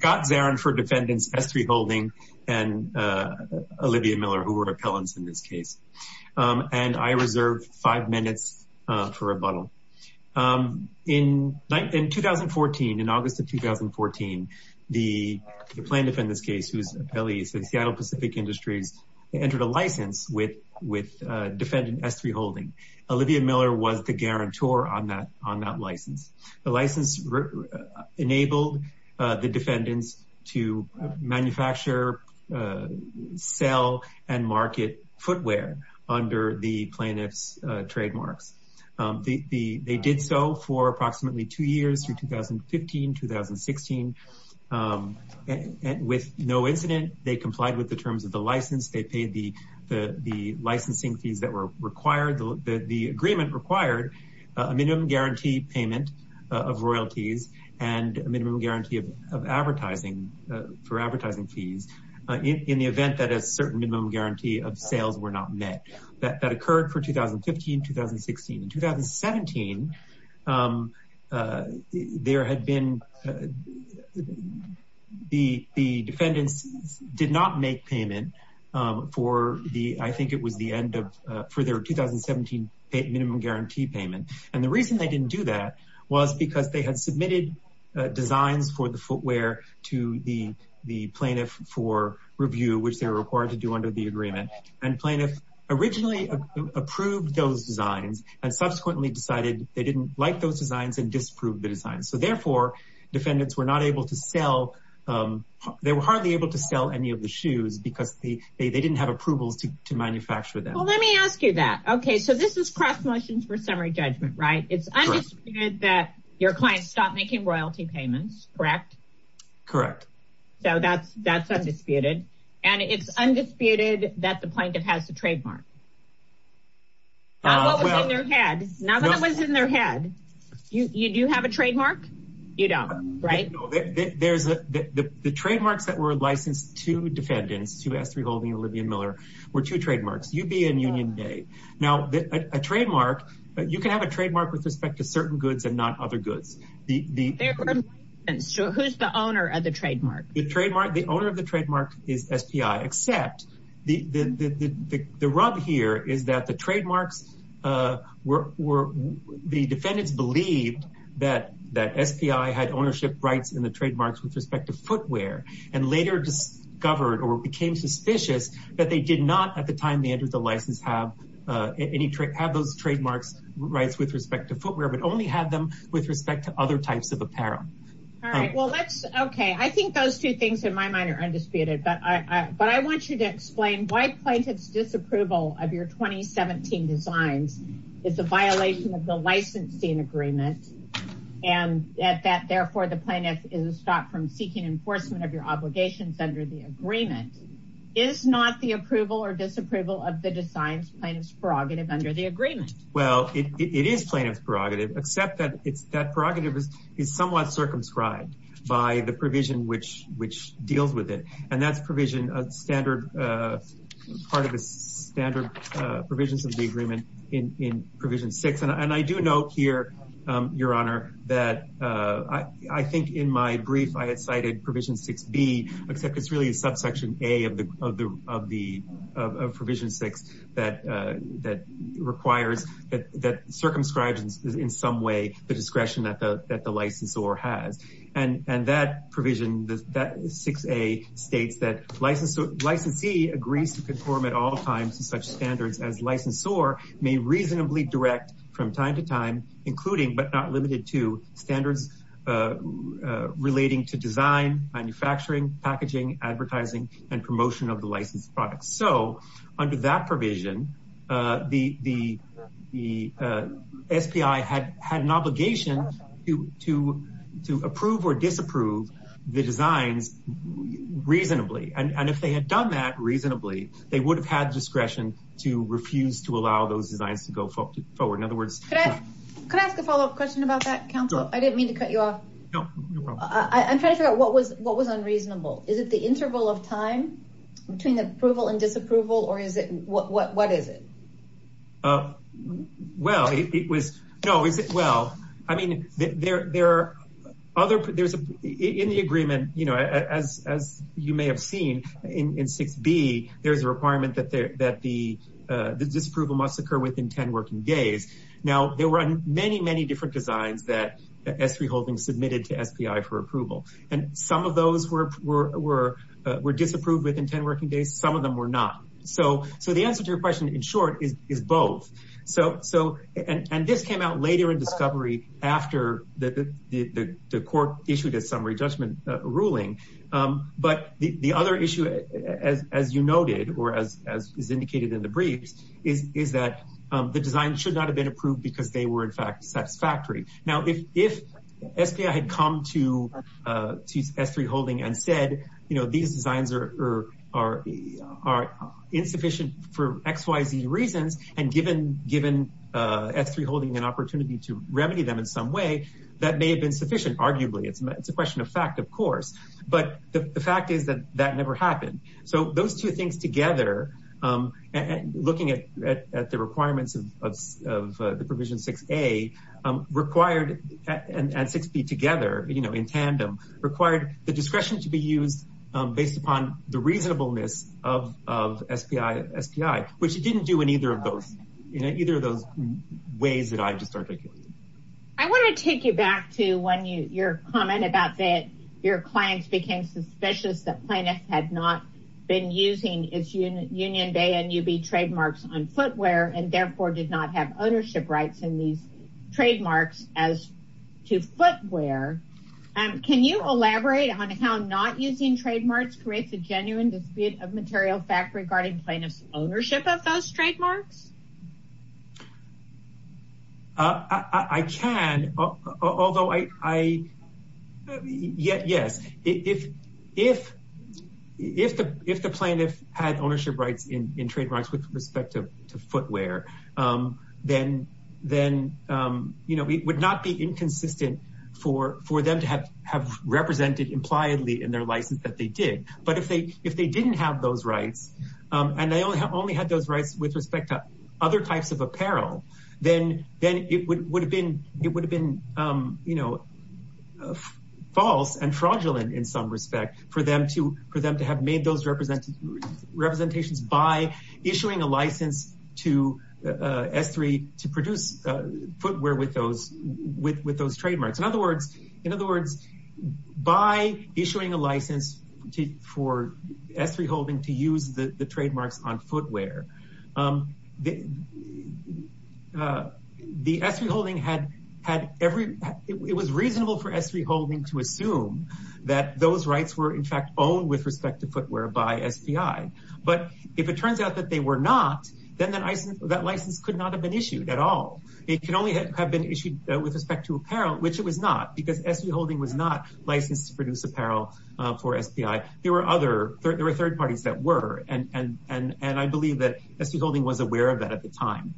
Scott Zarin for Defendants S3 Holding and Olivia Miller who were appellants in this case. And I reserve five minutes for rebuttal. In 2014, in August of 2014, the plaintiff in this case who is an appellee at Seattle Pacific Industries entered a license with Defendant S3 Holding. Olivia Miller was the guarantor on that license. The license enabled the defendants to manufacture, sell, and market footwear under the plaintiff's trademarks. They did so for approximately two years, through 2015, 2016. With no incident, they complied with the terms of the license. They paid the licensing fees that were required. The agreement required a minimum guarantee payment of royalties and a minimum guarantee of advertising, for advertising fees, in the event that a certain minimum guarantee of sales were not met. That occurred for 2015, 2016. In 2017, there had been, the defendants did not make payment for the, I think it was the end of, for their 2017 minimum guarantee payment. And the reason they didn't do that was because they had submitted designs for the footwear to the plaintiff for review, which they were required to do under the agreement. And plaintiff originally approved those designs and subsequently decided they didn't like those designs and disapproved the designs. So therefore, defendants were not able to sell, they were hardly able to sell any of the shoes because they didn't have approvals to manufacture them. Well, let me ask you that. Okay, so this is cross motions for summary judgment, right? It's undisputed that your client stopped making royalty payments, correct? Correct. So that's, that's undisputed. And it's undisputed that the plaintiff has the trademark. Not what was in their head, not what was in their head. You do have a trademark? You don't, right? No, there's, the trademarks that were licensed to defendants, to S3 Holdings and Olivia Miller, were two trademarks. UB and Union Bay. Now, a trademark, you can have a trademark with respect to certain goods and not other goods. So who's the owner of the trademark? The trademark, the owner of the trademark is SPI, except the rub here is that the trademarks were, the defendants believed that SPI had ownership rights in the trademarks with respect to footwear and later discovered or became suspicious that they did not at the time they entered the license have any, have those trademarks rights with respect to footwear, but only have them with respect to other types of apparel. All right, well, let's, okay. I think those two things in my mind are undisputed, but I want you to explain why plaintiff's approval of your 2017 designs is a violation of the licensing agreement and that therefore the plaintiff is stopped from seeking enforcement of your obligations under the agreement. Is not the approval or disapproval of the designs plaintiff's prerogative under the agreement? Well, it is plaintiff's prerogative, except that it's, that prerogative is, is somewhat circumscribed by the provision, which, which deals with it. And that's provision of standard, part of the standard provisions of the agreement in provision six. And I do note here, your honor, that I think in my brief, I had cited provision six B except it's really a subsection A of the, of the, of provision six that, that requires that, that circumscribes in some way, the discretion that the, that the licensor has. And, and that provision, that six A states that license, licensee agrees to conform at all times to such standards as licensor may reasonably direct from time to time, including, but not limited to standards relating to design, manufacturing, packaging, advertising, and promotion of the licensed products. So under that provision, the, the, the SPI had, had an obligation to, to, to approve or disapprove the designs reasonably. And if they had done that reasonably, they would have had discretion to refuse to allow those designs to go forward. In other words, Can I ask a follow-up question about that counsel? I didn't mean to cut you off. No, no problem. I'm trying to figure out what was, what was unreasonable. Is it the interval of time between approval and disapproval or is it, what, what, what is it? Well, it was, no, is it, well, I mean, there, there are other, there's a, in the agreement, you know, as, as you may have seen in six B, there's a requirement that there, that the, the disapproval must occur within 10 working days. Now there were many, many different designs that S3 Holdings submitted to SPI for approval. And some of those were, were, were, were disapproved within 10 working days. Some of them were not. So, so the answer to your question in short is, is both. So, so, and, and this came out later in discovery after the, the, the court issued a summary judgment ruling. But the other issue as, as you noted, or as, as is indicated in the briefs is, is that the design should not have been approved because they were in fact satisfactory. Now, if, if SPI had come to, to S3 Holding and said, you know, these designs are, are, are insufficient for X, Y, Z reasons, and given, given S3 Holding an opportunity to remedy them in some way that may have been sufficient, arguably, it's a, it's a question of fact, of course, but the fact is that that never happened. So those two things together, and looking at, at, at the requirements of, of, of the provision 6A required, and 6B together, you know, in tandem, required the discretion to be used based upon the reasonableness of, of SPI, SPI, which it didn't do in either of those, you know, either of those ways that I just articulated. I want to take you back to when you, your comment about that your clients became suspicious that plaintiffs had not been using its Union Bay and UB trademarks on footwear and therefore did not have ownership rights in these trademarks as to footwear. Can you elaborate on how not using trademarks creates a genuine dispute of material fact regarding plaintiffs' ownership of those trademarks? I can, although I, I, yes, if, if, if the, if the plaintiff had ownership rights in, in trademarks with respect to footwear, then, then, you know, it would not be inconsistent for, for them to have, have represented impliedly in their license that they did. But if they, if they didn't have those rights, and they only, only had those rights with respect to other types of apparel, then, then it would, would have been, it would have been, you know, false and fraudulent in some respect for them to, for them to have made those representations by issuing a license to S3 to produce footwear with those, with, with those trademarks. In other words, in other words, by issuing a license to, for S3 holding to use the trademarks on footwear, the, the S3 holding had, had every, it was reasonable for S3 holding to assume that those rights were in fact owned with respect to footwear by SPI. But if it turns out that they were not, then that license could not have been issued at all. It can only have been issued with respect to apparel, which it was not because S3 holding was not licensed to produce apparel for SPI. There were other, there were third parties that were, and, and, and, and I believe that S3 holding was aware of that at the time.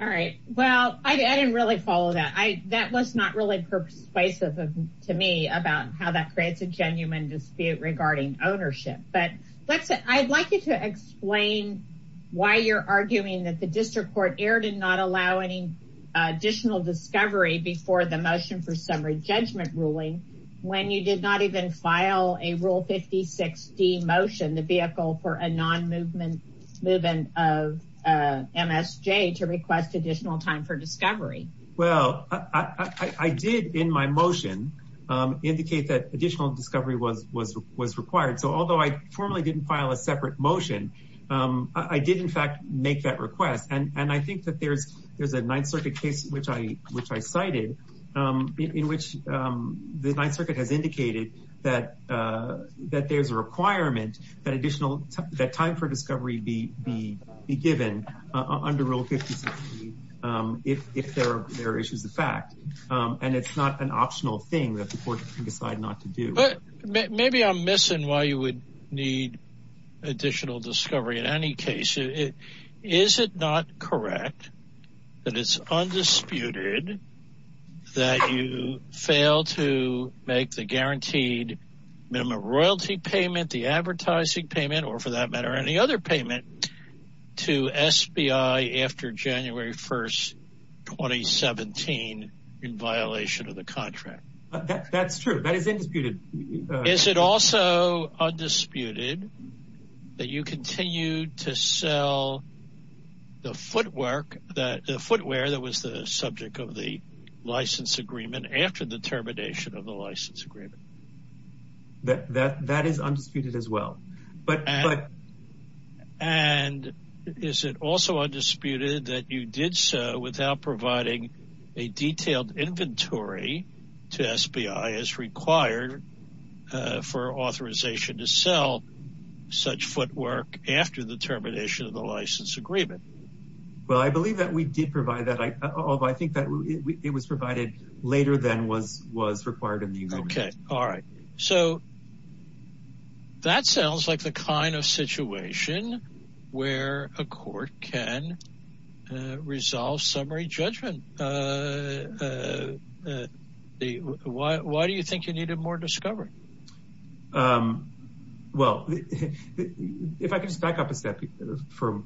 All right. Well, I didn't really follow that. I, that was not really persuasive to me about how that creates a genuine dispute regarding ownership. But let's say, I'd like you to explain why you're arguing that the district court erred and not allow any additional discovery before the motion for summary judgment ruling, when you did not even file a rule 56D motion, the vehicle for a non-movement of MSJ to request additional time for discovery. Well, I, I did in my motion indicate that additional discovery was, was, was required. So although I formally didn't file a separate motion, I did in fact make that request. And I think that there's, there's a ninth circuit case, which I, which I cited in, in which I indicated that, that there's a requirement that additional, that time for discovery be, be, be given under rule 56, if, if there are, there are issues of fact. And it's not an optional thing that the court can decide not to do. Maybe I'm missing why you would need additional discovery in any case. Is it, is it not correct that it's undisputed that you fail to make the guaranteed minimum royalty payment, the advertising payment, or for that matter, any other payment to SBI after January 1st, 2017 in violation of the contract? That's true. That is indisputed. Is it also undisputed that you continue to sell the footwork that, the footwear that was the subject of the license agreement after the termination of the license agreement? That is undisputed as well, but, but. And is it also undisputed that you did so without providing a detailed inventory to for authorization to sell such footwork after the termination of the license agreement? Well, I believe that we did provide that, although I think that it was provided later than was, was required in the agreement. Okay. All right. So that sounds like the kind of situation where a court can resolve summary judgment. And why, why do you think you needed more discovery? Well, if I could just back up a step for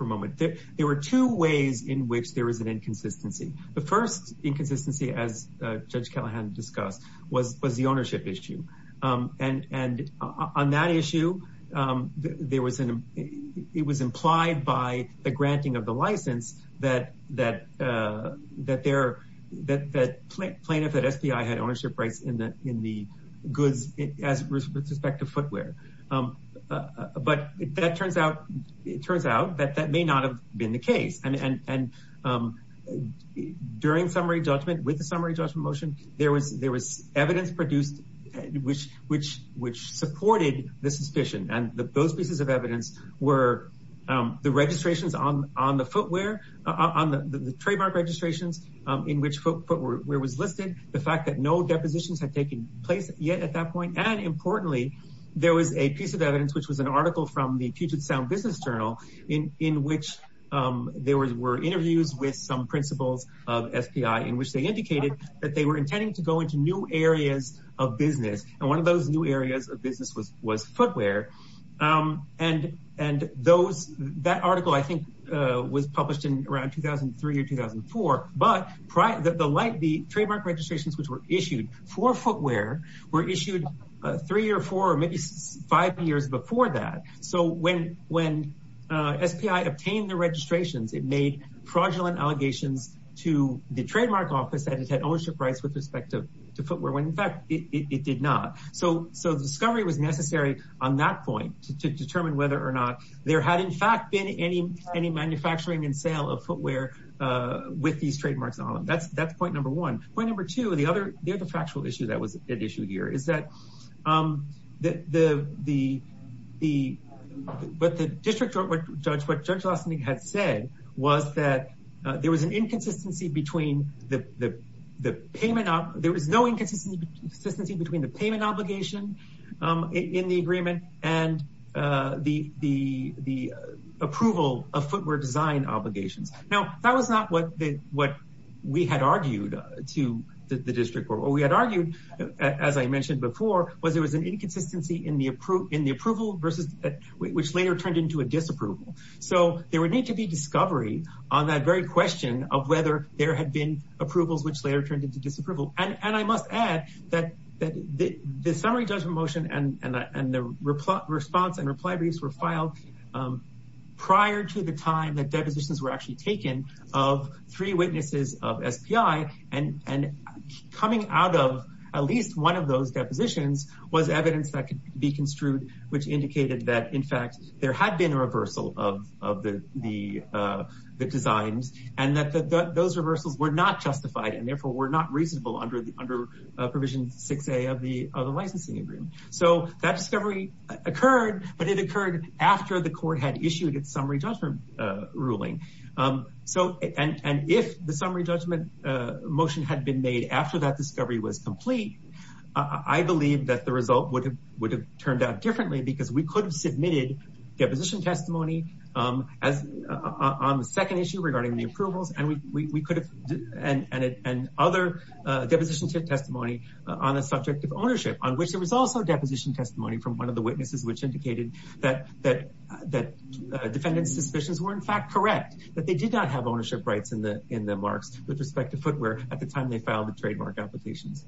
a moment, there were two ways in which there was an inconsistency. The first inconsistency, as Judge Callahan discussed, was, was the ownership issue. And, and on that issue, there was an, it was implied by the granting of the license that, that, that there, that plaintiff at SPI had ownership rights in the, in the goods as with respect to footwear. But that turns out, it turns out that that may not have been the case. And during summary judgment, with the summary judgment motion, there was, there was evidence produced which, which, which supported the suspicion. And those pieces of evidence were the registrations on, on the footwear, on the trademark registrations, in which footwear was listed, the fact that no depositions had taken place yet at that point. And importantly, there was a piece of evidence, which was an article from the Puget Sound Business Journal in, in which there were interviews with some principals of SPI, in which they And one of those new areas of business was, was footwear. And, and those, that article, I think, was published in around 2003 or 2004. But prior, the trademark registrations, which were issued for footwear, were issued three or four, or maybe five years before that. So when, when SPI obtained the registrations, it made fraudulent allegations to the trademark office that it had ownership rights with respect to, to footwear, when in fact, it, it did not. So, so the discovery was necessary on that point to, to determine whether or not there had in fact been any, any manufacturing and sale of footwear with these trademarks on them. That's, that's point number one. Point number two, the other, the other factual issue that was at issue here is that the, the, the, the, what the district judge, what Judge Lassenig had said was that there was an inconsistency between the, the, the payment, there was no inconsistency between the payment obligation in the agreement and the, the, the approval of footwear design obligations. Now, that was not what the, what we had argued to the district, or what we had argued, as I mentioned before, was there was an inconsistency in the approval, in the approval versus, which later turned into a disapproval. So, there would need to be discovery on that very question of whether there had been approvals, which later turned into disapproval. And I must add that, that the, the summary judgment motion and, and the response and reply briefs were filed prior to the time that depositions were actually taken of three witnesses of SPI and, and coming out of at least one of those depositions was evidence that could be construed, which indicated that, in fact, there had been a reversal of, of the, the, the designs and that those reversals were not justified and therefore were not reasonable under the, under provision 6A of the, of the licensing agreement. So that discovery occurred, but it occurred after the court had issued its summary judgment ruling. So, and, and if the summary judgment motion had been made after that discovery was complete, I believe that the result would have, would have turned out differently because we could have submitted deposition testimony as, on the second issue regarding the approvals and we, we, we could have, and, and, and other deposition testimony on a subject of ownership on which there was also deposition testimony from one of the witnesses, which indicated that, that, that defendant's suspicions were in fact correct, that they did not have ownership rights in the, in the marks with respect to footwear at the time they filed the trademark applications.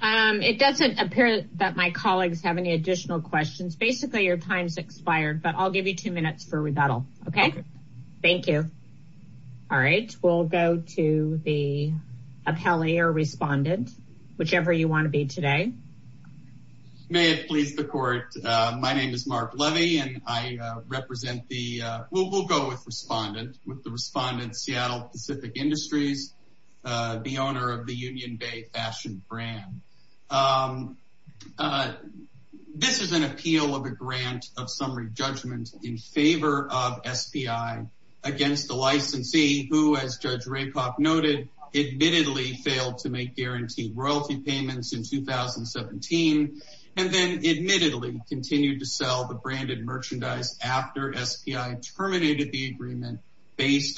Um, it doesn't appear that my colleagues have any additional questions. Basically your time's expired, but I'll give you two minutes for rebuttal. Okay. Thank you. All right. We'll go to the appellee or respondent, whichever you want to be today. May it please the court. My name is Mark Levy and I represent the, we'll, we'll go with respondent with the respondent Seattle Pacific Industries, uh, the owner of the Union Bay Fashion Brand. Um, uh, this is an appeal of a grant of summary judgment in favor of SPI against the licensee who as Judge Rapoff noted, admittedly failed to make guaranteed royalty payments in 2017. And then admittedly continued to sell the branded merchandise after SPI terminated the breach.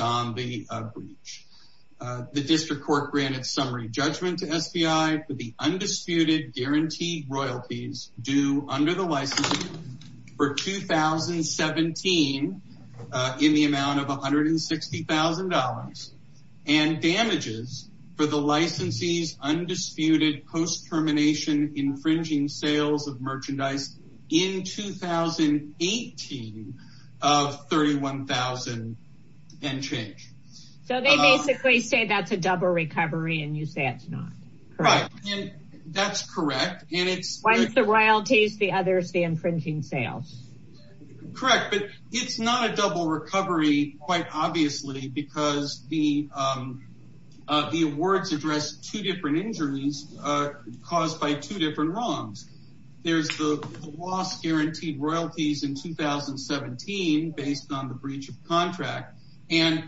Uh, the district court granted summary judgment to SPI for the undisputed guaranteed royalties due under the license for 2017, uh, in the amount of $160,000 and damages for the licensees undisputed post-termination infringing sales of merchandise in 2018 of 31,000 and change. So they basically say that's a double recovery and you say it's not correct. That's correct. And it's the royalties, the others, the infringing sales, correct, but it's not a double recovery quite obviously because the, um, uh, the awards address two different injuries, uh, caused by two different wrongs. There's the loss guaranteed royalties in 2017 based on the breach of contract. And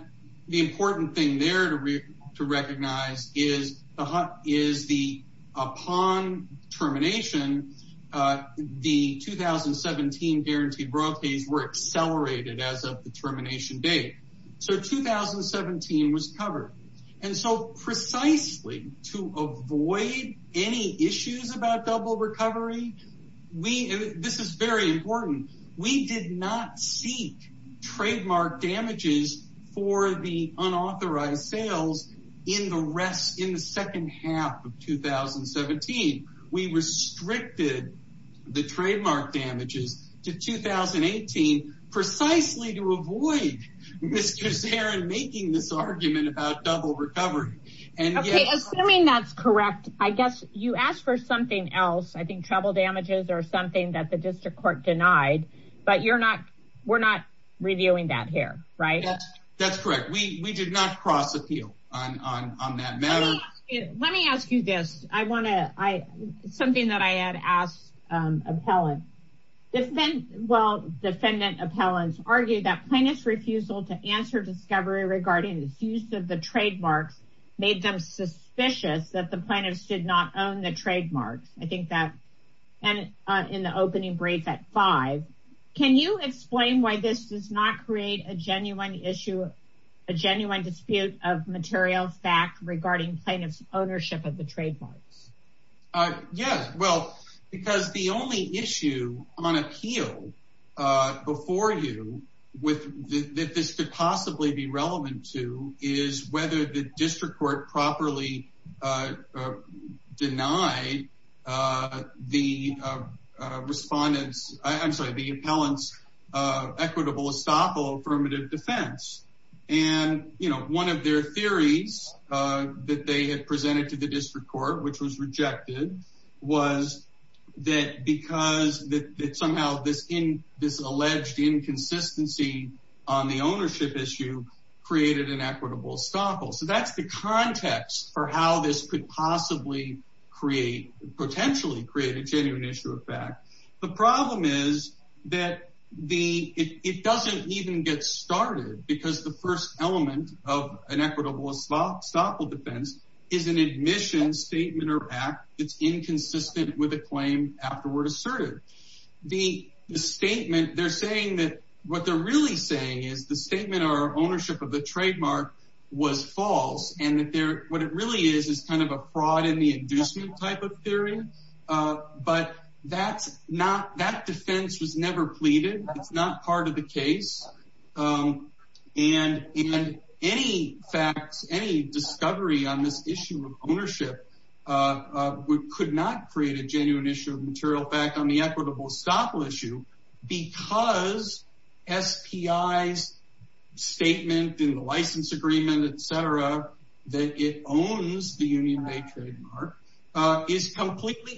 the important thing there to re to recognize is the, is the upon termination, uh, the 2017 guaranteed royalties were accelerated as of the termination date. So 2017 was covered. And so precisely to avoid any issues about double recovery, we, this is very important. We did not seek trademark damages for the unauthorized sales in the rest, in the second half of 2017. We restricted the trademark damages to 2018 precisely to avoid Mr. Zarin making this argument about double recovery. Okay. Assuming that's correct. I guess you asked for something else. I think trouble damages or something that the district court denied, but you're not, we're not reviewing that here, right? That's correct. We, we did not cross appeal on, on, on that matter. Let me ask you this. I want to, I, something that I had asked, um, appellant, well, defendant appellants argued that plaintiff's refusal to answer discovery regarding the use of the trademarks made them suspicious that the plaintiffs did not own the trademarks. I think that, and, uh, in the opening brief at five, can you explain why this does not create a genuine issue, a genuine dispute of material fact regarding plaintiff's ownership of the trademarks? Uh, yeah, well, because the only issue on appeal, uh, before you with the, that this could possibly be relevant to is whether the district court properly, uh, uh, denied, uh, the, uh, uh, respondents, I'm sorry, the appellants, uh, equitable estoppel affirmative defense. And, you know, one of their theories, uh, that they had presented to the district court, which was rejected was that because that somehow this in this alleged inconsistency on the ownership issue created an equitable estoppel. So that's the context for how this could possibly create, potentially create a genuine issue of fact. The problem is that the, it, it doesn't even get started because the first element of an equitable estoppel defense is an admission statement or act that's inconsistent with a claim afterward asserted. The statement they're saying that what they're really saying is the statement or ownership of the trademark was false. And that there, what it really is, is kind of a fraud in the inducement type of theory. Uh, but that's not, that defense was never pleaded. It's not part of the case. Um, and, and any facts, any discovery on this issue of ownership, uh, uh, could not create a genuine issue of material fact on the equitable estoppel issue because SPI's statement in the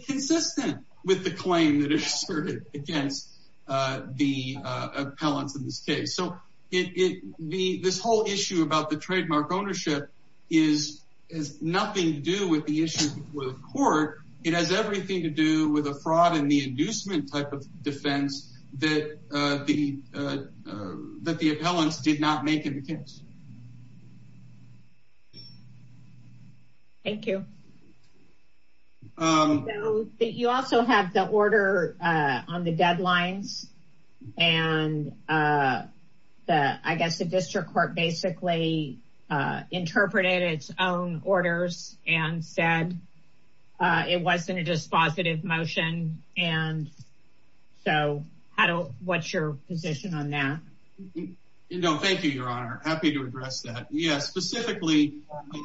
consistent with the claim that are asserted against, uh, the, uh, appellants in this case. So it, it, the, this whole issue about the trademark ownership is, is nothing to do with the issue with court. It has everything to do with a fraud in the inducement type of defense that, uh, the, uh, that the appellants did not make in the case. Thank you. Um, that you also have the order, uh, on the deadlines and, uh, the, I guess the district court basically, uh, interpreted its own orders and said, uh, it wasn't a dispositive motion. And so how do, what's your position on that? No, thank you, your honor. Happy to address that. Yeah, specifically,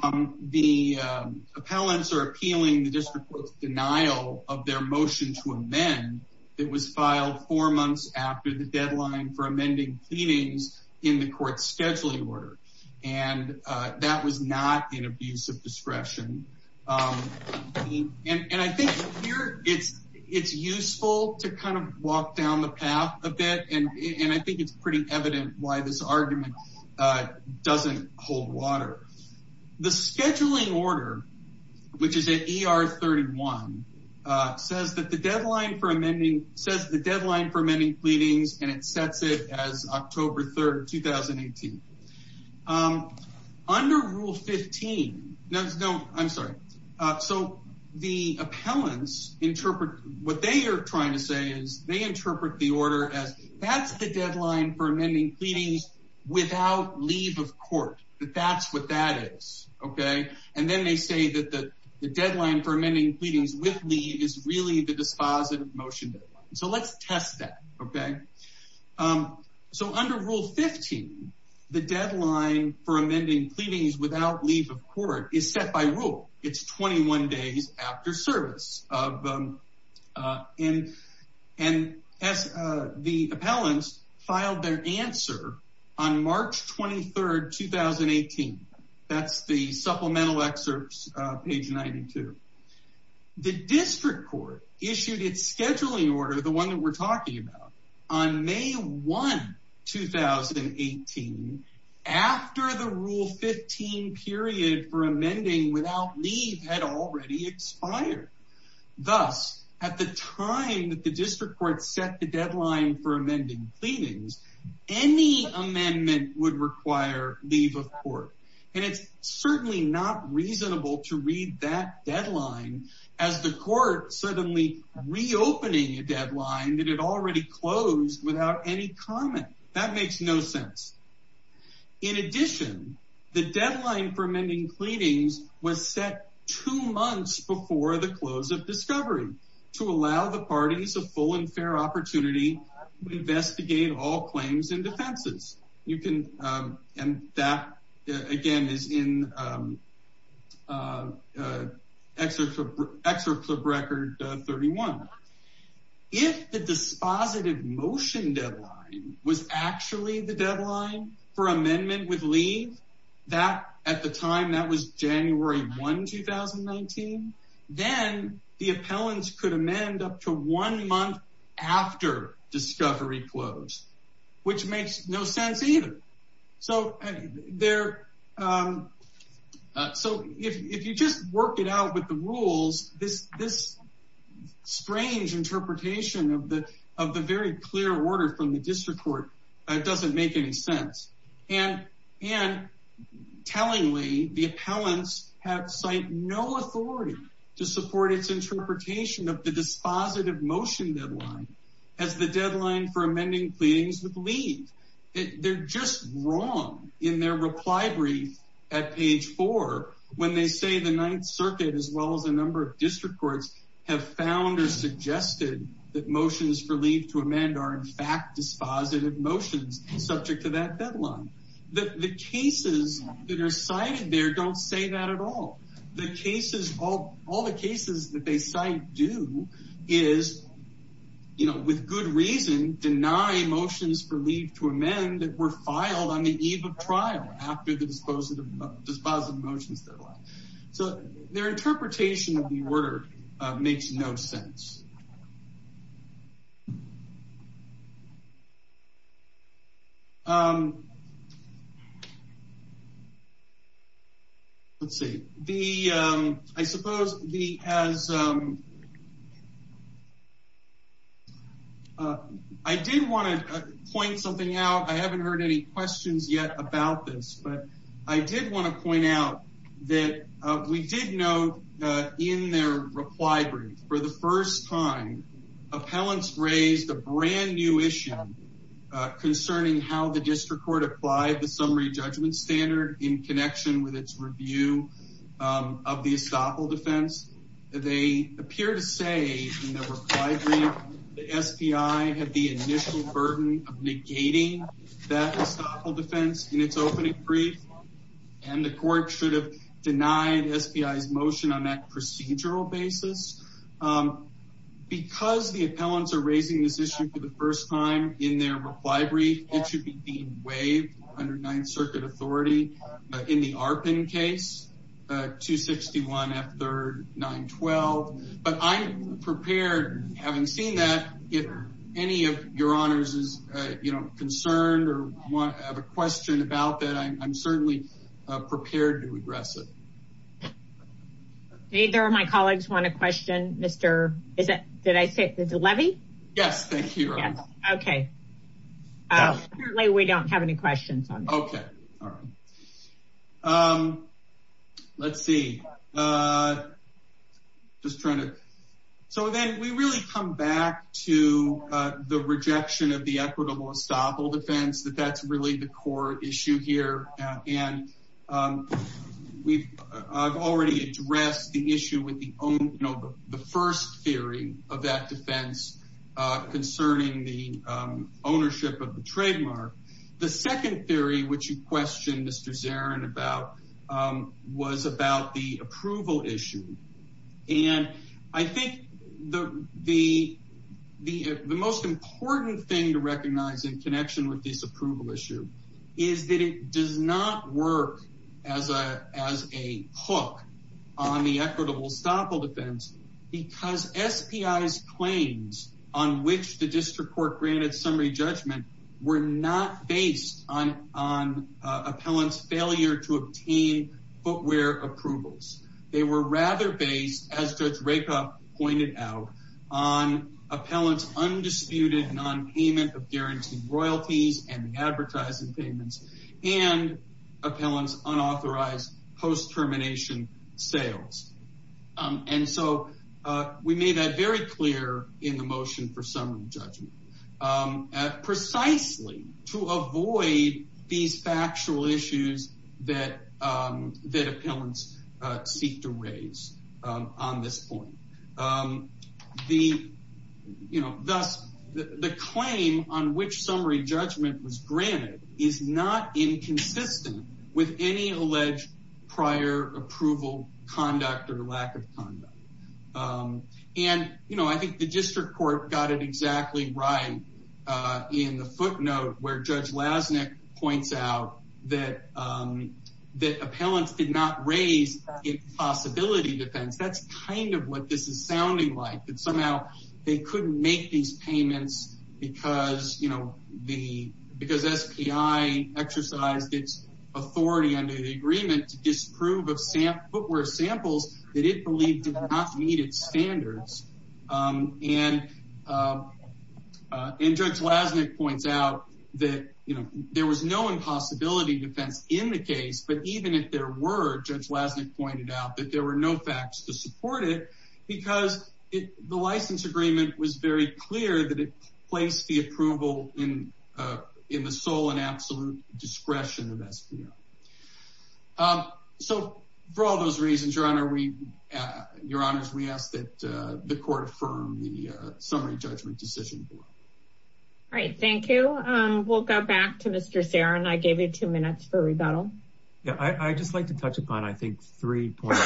um, the, um, appellants are appealing the district court's denial of their motion to amend that was filed four months after the deadline for amending pleadings in the court scheduling order. And, uh, that was not an abuse of discretion. Um, and, and I think here it's, it's useful to kind of walk down the path a bit. And I think it's pretty evident why this argument, uh, doesn't hold water. The scheduling order, which is at ER 31, uh, says that the deadline for amending, says the deadline for amending pleadings, and it sets it as October 3rd, 2018. Um, under rule 15, no, no, I'm sorry. So the appellants interpret what they are trying to say is they interpret the order as that's the deadline for amending pleadings without leave of court. That's what that is. Okay. And then they say that the deadline for amending pleadings with leave is really the dispositive motion. So let's test that. Okay. Um, so under rule 15, the deadline for amending pleadings without leave of court is set by rule. It's 21 days after service of, um, uh, and, and as, uh, the appellants filed their answer on March 23rd, 2018. That's the supplemental excerpts, uh, page 92. The district court issued its scheduling order, the one that we're talking about on May 1, 2018, after the rule 15 period for amending without leave had already expired. Thus, at the time that the district court set the deadline for amending pleadings, any amendment would require leave of court. And it's certainly not reasonable to read that deadline as the court suddenly reopening a deadline that had already closed without any comment. That makes no sense. In addition, the deadline for amending pleadings was set two months before the close of discovery to allow the parties a full and fair opportunity to investigate all claims and defenses. You can, um, and that again is in, um, uh, uh, excerpt from record 31. If the dispositive motion deadline was actually the deadline for amendment with leave that at the time that was January 1, 2019, then the appellants could amend up to one month after discovery closed, which makes no sense either. So there, um, uh, so if, if you just work it out with the rules, this, this strange interpretation of the, of the very clear order from the district court, it doesn't make any sense and, and tellingly the appellants have cite no authority to support its interpretation of the dispositive motion deadline as the deadline for amending pleadings with leave. They're just wrong in their reply brief at page four, when they say the ninth circuit, as well as a number of district courts have found or suggested that motions for leave to amend are in fact dispositive motions subject to that deadline. The cases that are cited there don't say that at all. The cases, all the cases that they cite do is, you know, with good reason deny motions for leave to amend that were filed on the eve of trial after the dispositive dispositive motions deadline. So their interpretation of the order makes no sense. Um, let's see the, um, I suppose the, as, um, Uh, I did want to point something out. I haven't heard any questions yet about this, but I did want to point out that, uh, we did know, uh, in their reply brief for the first time appellants raised a brand new issue, uh, concerning how the district court applied the summary judgment standard in connection with its review, um, of the estoppel defense. They appear to say in their reply brief, the SPI had the initial burden of negating that estoppel defense in its opening brief, and the court should have denied SPI's motion on that procedural basis, um, because the appellants are raising this issue for the first time in their reply brief, it should be deemed waived under ninth circuit authority. In the ARPAN case, uh, 261 F3rd 912, but I'm prepared having seen that if any of your honors is, uh, you know, concerned or want to have a question about that, I'm certainly prepared to address it. Neither of my colleagues want to question. Mr. Is it, did I say it's a levy? Yes. Thank you. Okay. Oh, we don't have any questions. Okay. Um, let's see. Uh, just trying to, so then we really come back to, uh, the rejection of the equitable estoppel defense, that that's really the core issue here. And, um, we've, I've already addressed the issue with the, you know, the first theory of that defense, uh, concerning the, um, ownership of the trademark. The second theory, which you questioned Mr. Zarin about, um, was about the approval issue. And I think the, the, the, the most important thing to recognize in connection with this approval issue is that it does not work as a, as a hook on the equitable estoppel defense because SPI's claims on which the district court granted summary judgment were not based on, on, uh, appellant's failure to obtain footwear approvals. They were rather based as Judge Rakoff pointed out on appellant's undisputed non-payment of guaranteed royalties and the advertising payments and appellant's unauthorized post-termination sales. Um, and so, uh, we made that very clear in the motion for summary judgment, um, precisely to avoid these factual issues that, um, that appellants, uh, seek to raise, um, on this point. Um, the, you know, thus the claim on which summary judgment was granted is not inconsistent with any alleged prior approval conduct or lack of conduct. Um, and, you know, I think the district court got it exactly right, uh, in the footnote where Judge Lasnik points out that, um, that appellants did not raise a possibility defense. That's kind of what this is sounding like, that somehow they couldn't make these payments because, you know, the, because SPI exercised its authority under the agreement to disprove of footwear samples that it believed did not meet its standards. Um, and, uh, uh, and Judge Lasnik points out that, you know, there was no impossibility defense in the case, but even if there were, Judge Lasnik pointed out that there were no facts to support it because it, the license agreement was very clear that it placed the approval in, uh, in the sole and absolute discretion of SPI. Um, so for all those reasons, Your Honor, we, uh, Your Honors, we ask that, uh, the court affirm the, uh, summary judgment decision. All right. Thank you. Um, we'll go back to Mr. Ceren. I gave you two minutes for rebuttal. Yeah, I, I just like to touch upon, I think three points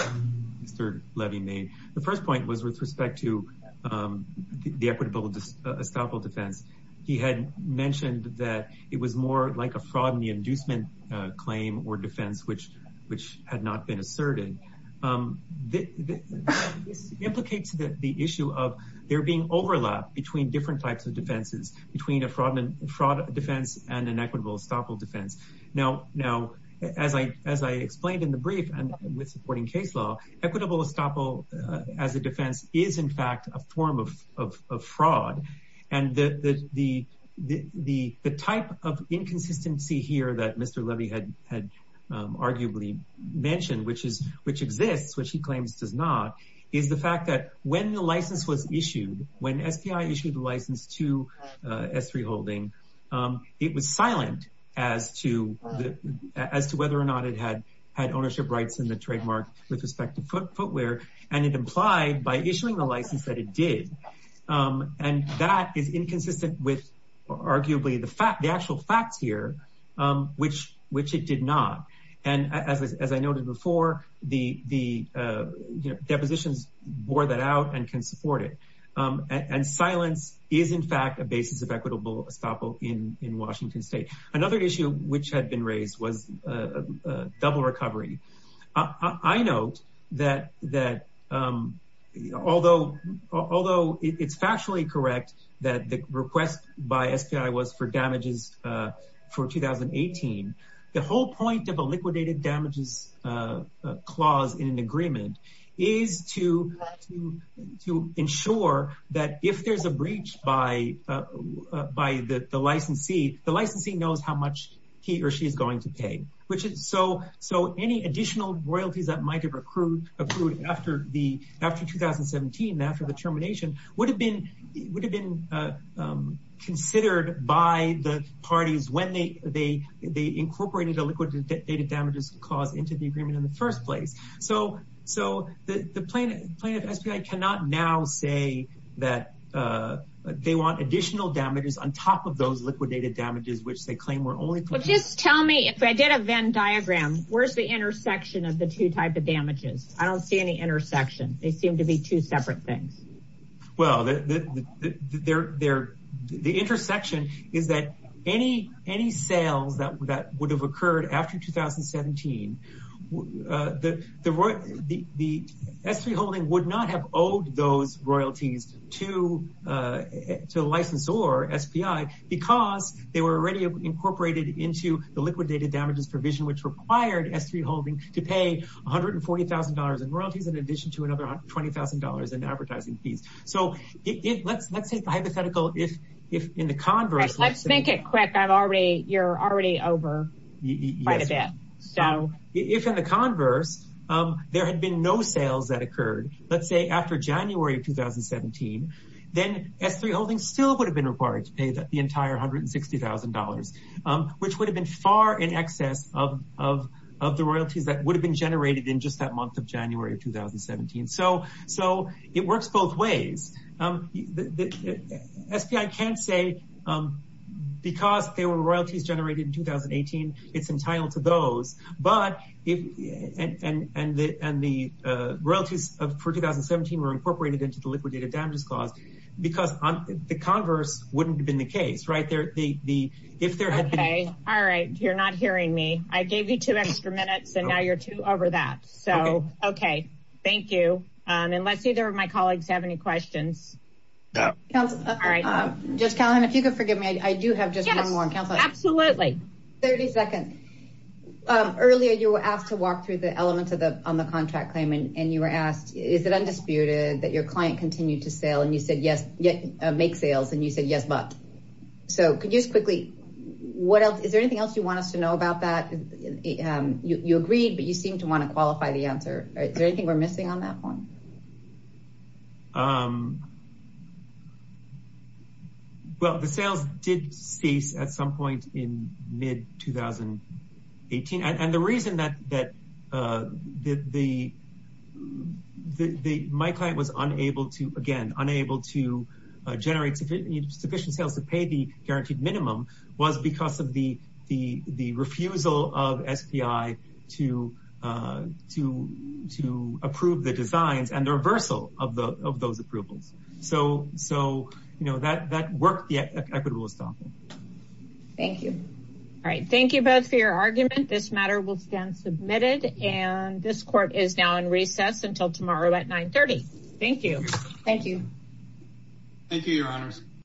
Mr. Levy made. The first point was with respect to, um, the equitable estoppel defense. He had mentioned that it was more like a fraud and the inducement, uh, claim or defense, which, which had not been asserted. Um, this implicates that the issue of there being overlap between different types of defenses between a fraud and fraud defense and an equitable estoppel defense. Now, now, as I, as I explained in the brief and with supporting case law, equitable estoppel as a defense is in fact, a form of, of, of fraud. And the, the, the, the, the type of inconsistency here that Mr. Levy had, had, um, arguably mentioned, which is, which exists, which he claims does not, is the fact that when the as to whether or not it had, had ownership rights in the trademark with respect to footwear and it implied by issuing the license that it did. Um, and that is inconsistent with arguably the fact, the actual facts here, um, which, which it did not. And as, as I noted before, the, the, uh, you know, depositions bore that out and can support it. Um, and, and silence is in fact, a basis of equitable estoppel in, in Washington state. Another issue which had been raised was, uh, uh, double recovery. I note that, that, um, although, although it's factually correct that the request by SPI was for damages, uh, for 2018, the whole point of a liquidated damages, uh, uh, clause in an agreement is to, to, to ensure that if there's a breach by, uh, by the, the licensee, the licensee knows how much he or she is going to pay, which is so, so any additional royalties that might've accrued, accrued after the, after 2017, after the termination would have been, would have been, uh, um, considered by the parties when they, they, they incorporated the liquidated damages clause into the agreement in the first place. So, so the plaintiff, plaintiff SPI cannot now say that, uh, they want additional damages on top of those liquidated damages, which they claim were only. Well, just tell me if I did a Venn diagram, where's the intersection of the two types of damages? I don't see any intersection. They seem to be two separate things. Well, the, the, the, the, their, their, the intersection is that any, any sales that, that would have occurred after 2017, uh, the, the, the, the SPI holding would not have owed those royalties to, uh, to the license or SPI, because they were already incorporated into the liquidated damages provision, which required S3 holding to pay $140,000 in royalties in addition to another $20,000 in advertising fees. So let's, let's say the hypothetical, if, if in the converse, let's make it quick. I've already, you're already over quite a bit. So if in the converse, um, there had been no sales that occurred, let's say after January of 2017, then S3 holding still would have been required to pay that the entire $160,000, um, which would have been far in excess of, of, of the royalties that would have been generated in just that month of January of 2017. So, so it works both ways. Um, the, the SPI can't say, um, because there were royalties generated in 2018, it's entitled to those, but if, and, and, and the, and the, uh, royalties of for 2017 were incorporated into the liquidated damages clause, because the converse wouldn't have been the case, right? There, the, the, if there had been... Okay. All right. You're not hearing me. I gave you two extra minutes and now you're two over that. So, okay. Thank you. Um, unless either of my colleagues have any questions. Councilor, just Callahan, if you could forgive me, I do have just one more. Absolutely. 30 seconds. Um, earlier you were asked to walk through the elements of the, on the contract claim and you were asked, is it undisputed that your client continued to sale? And you said, yes, yet make sales. And you said, yes, but, so could you just quickly, what else, is there anything else you want us to know about that? Um, you, you agreed, but you seem to want to qualify the answer, right? Is there anything we're missing on that one? Um, well, the sales did cease at some point in mid 2018. And the reason that, that, uh, the, the, the, the, my client was unable to, again, unable to generate sufficient sales to pay the guaranteed minimum was because of the, the, the refusal of SPI to, uh, to, to approve the designs and the reversal of the, of those approvals. So, so, you know, that, that worked the equitable stopping. Thank you. All right. Thank you both for your argument. This matter will stand submitted and this court is now in recess until tomorrow at 930. Thank you. Thank you. Thank you, your honors.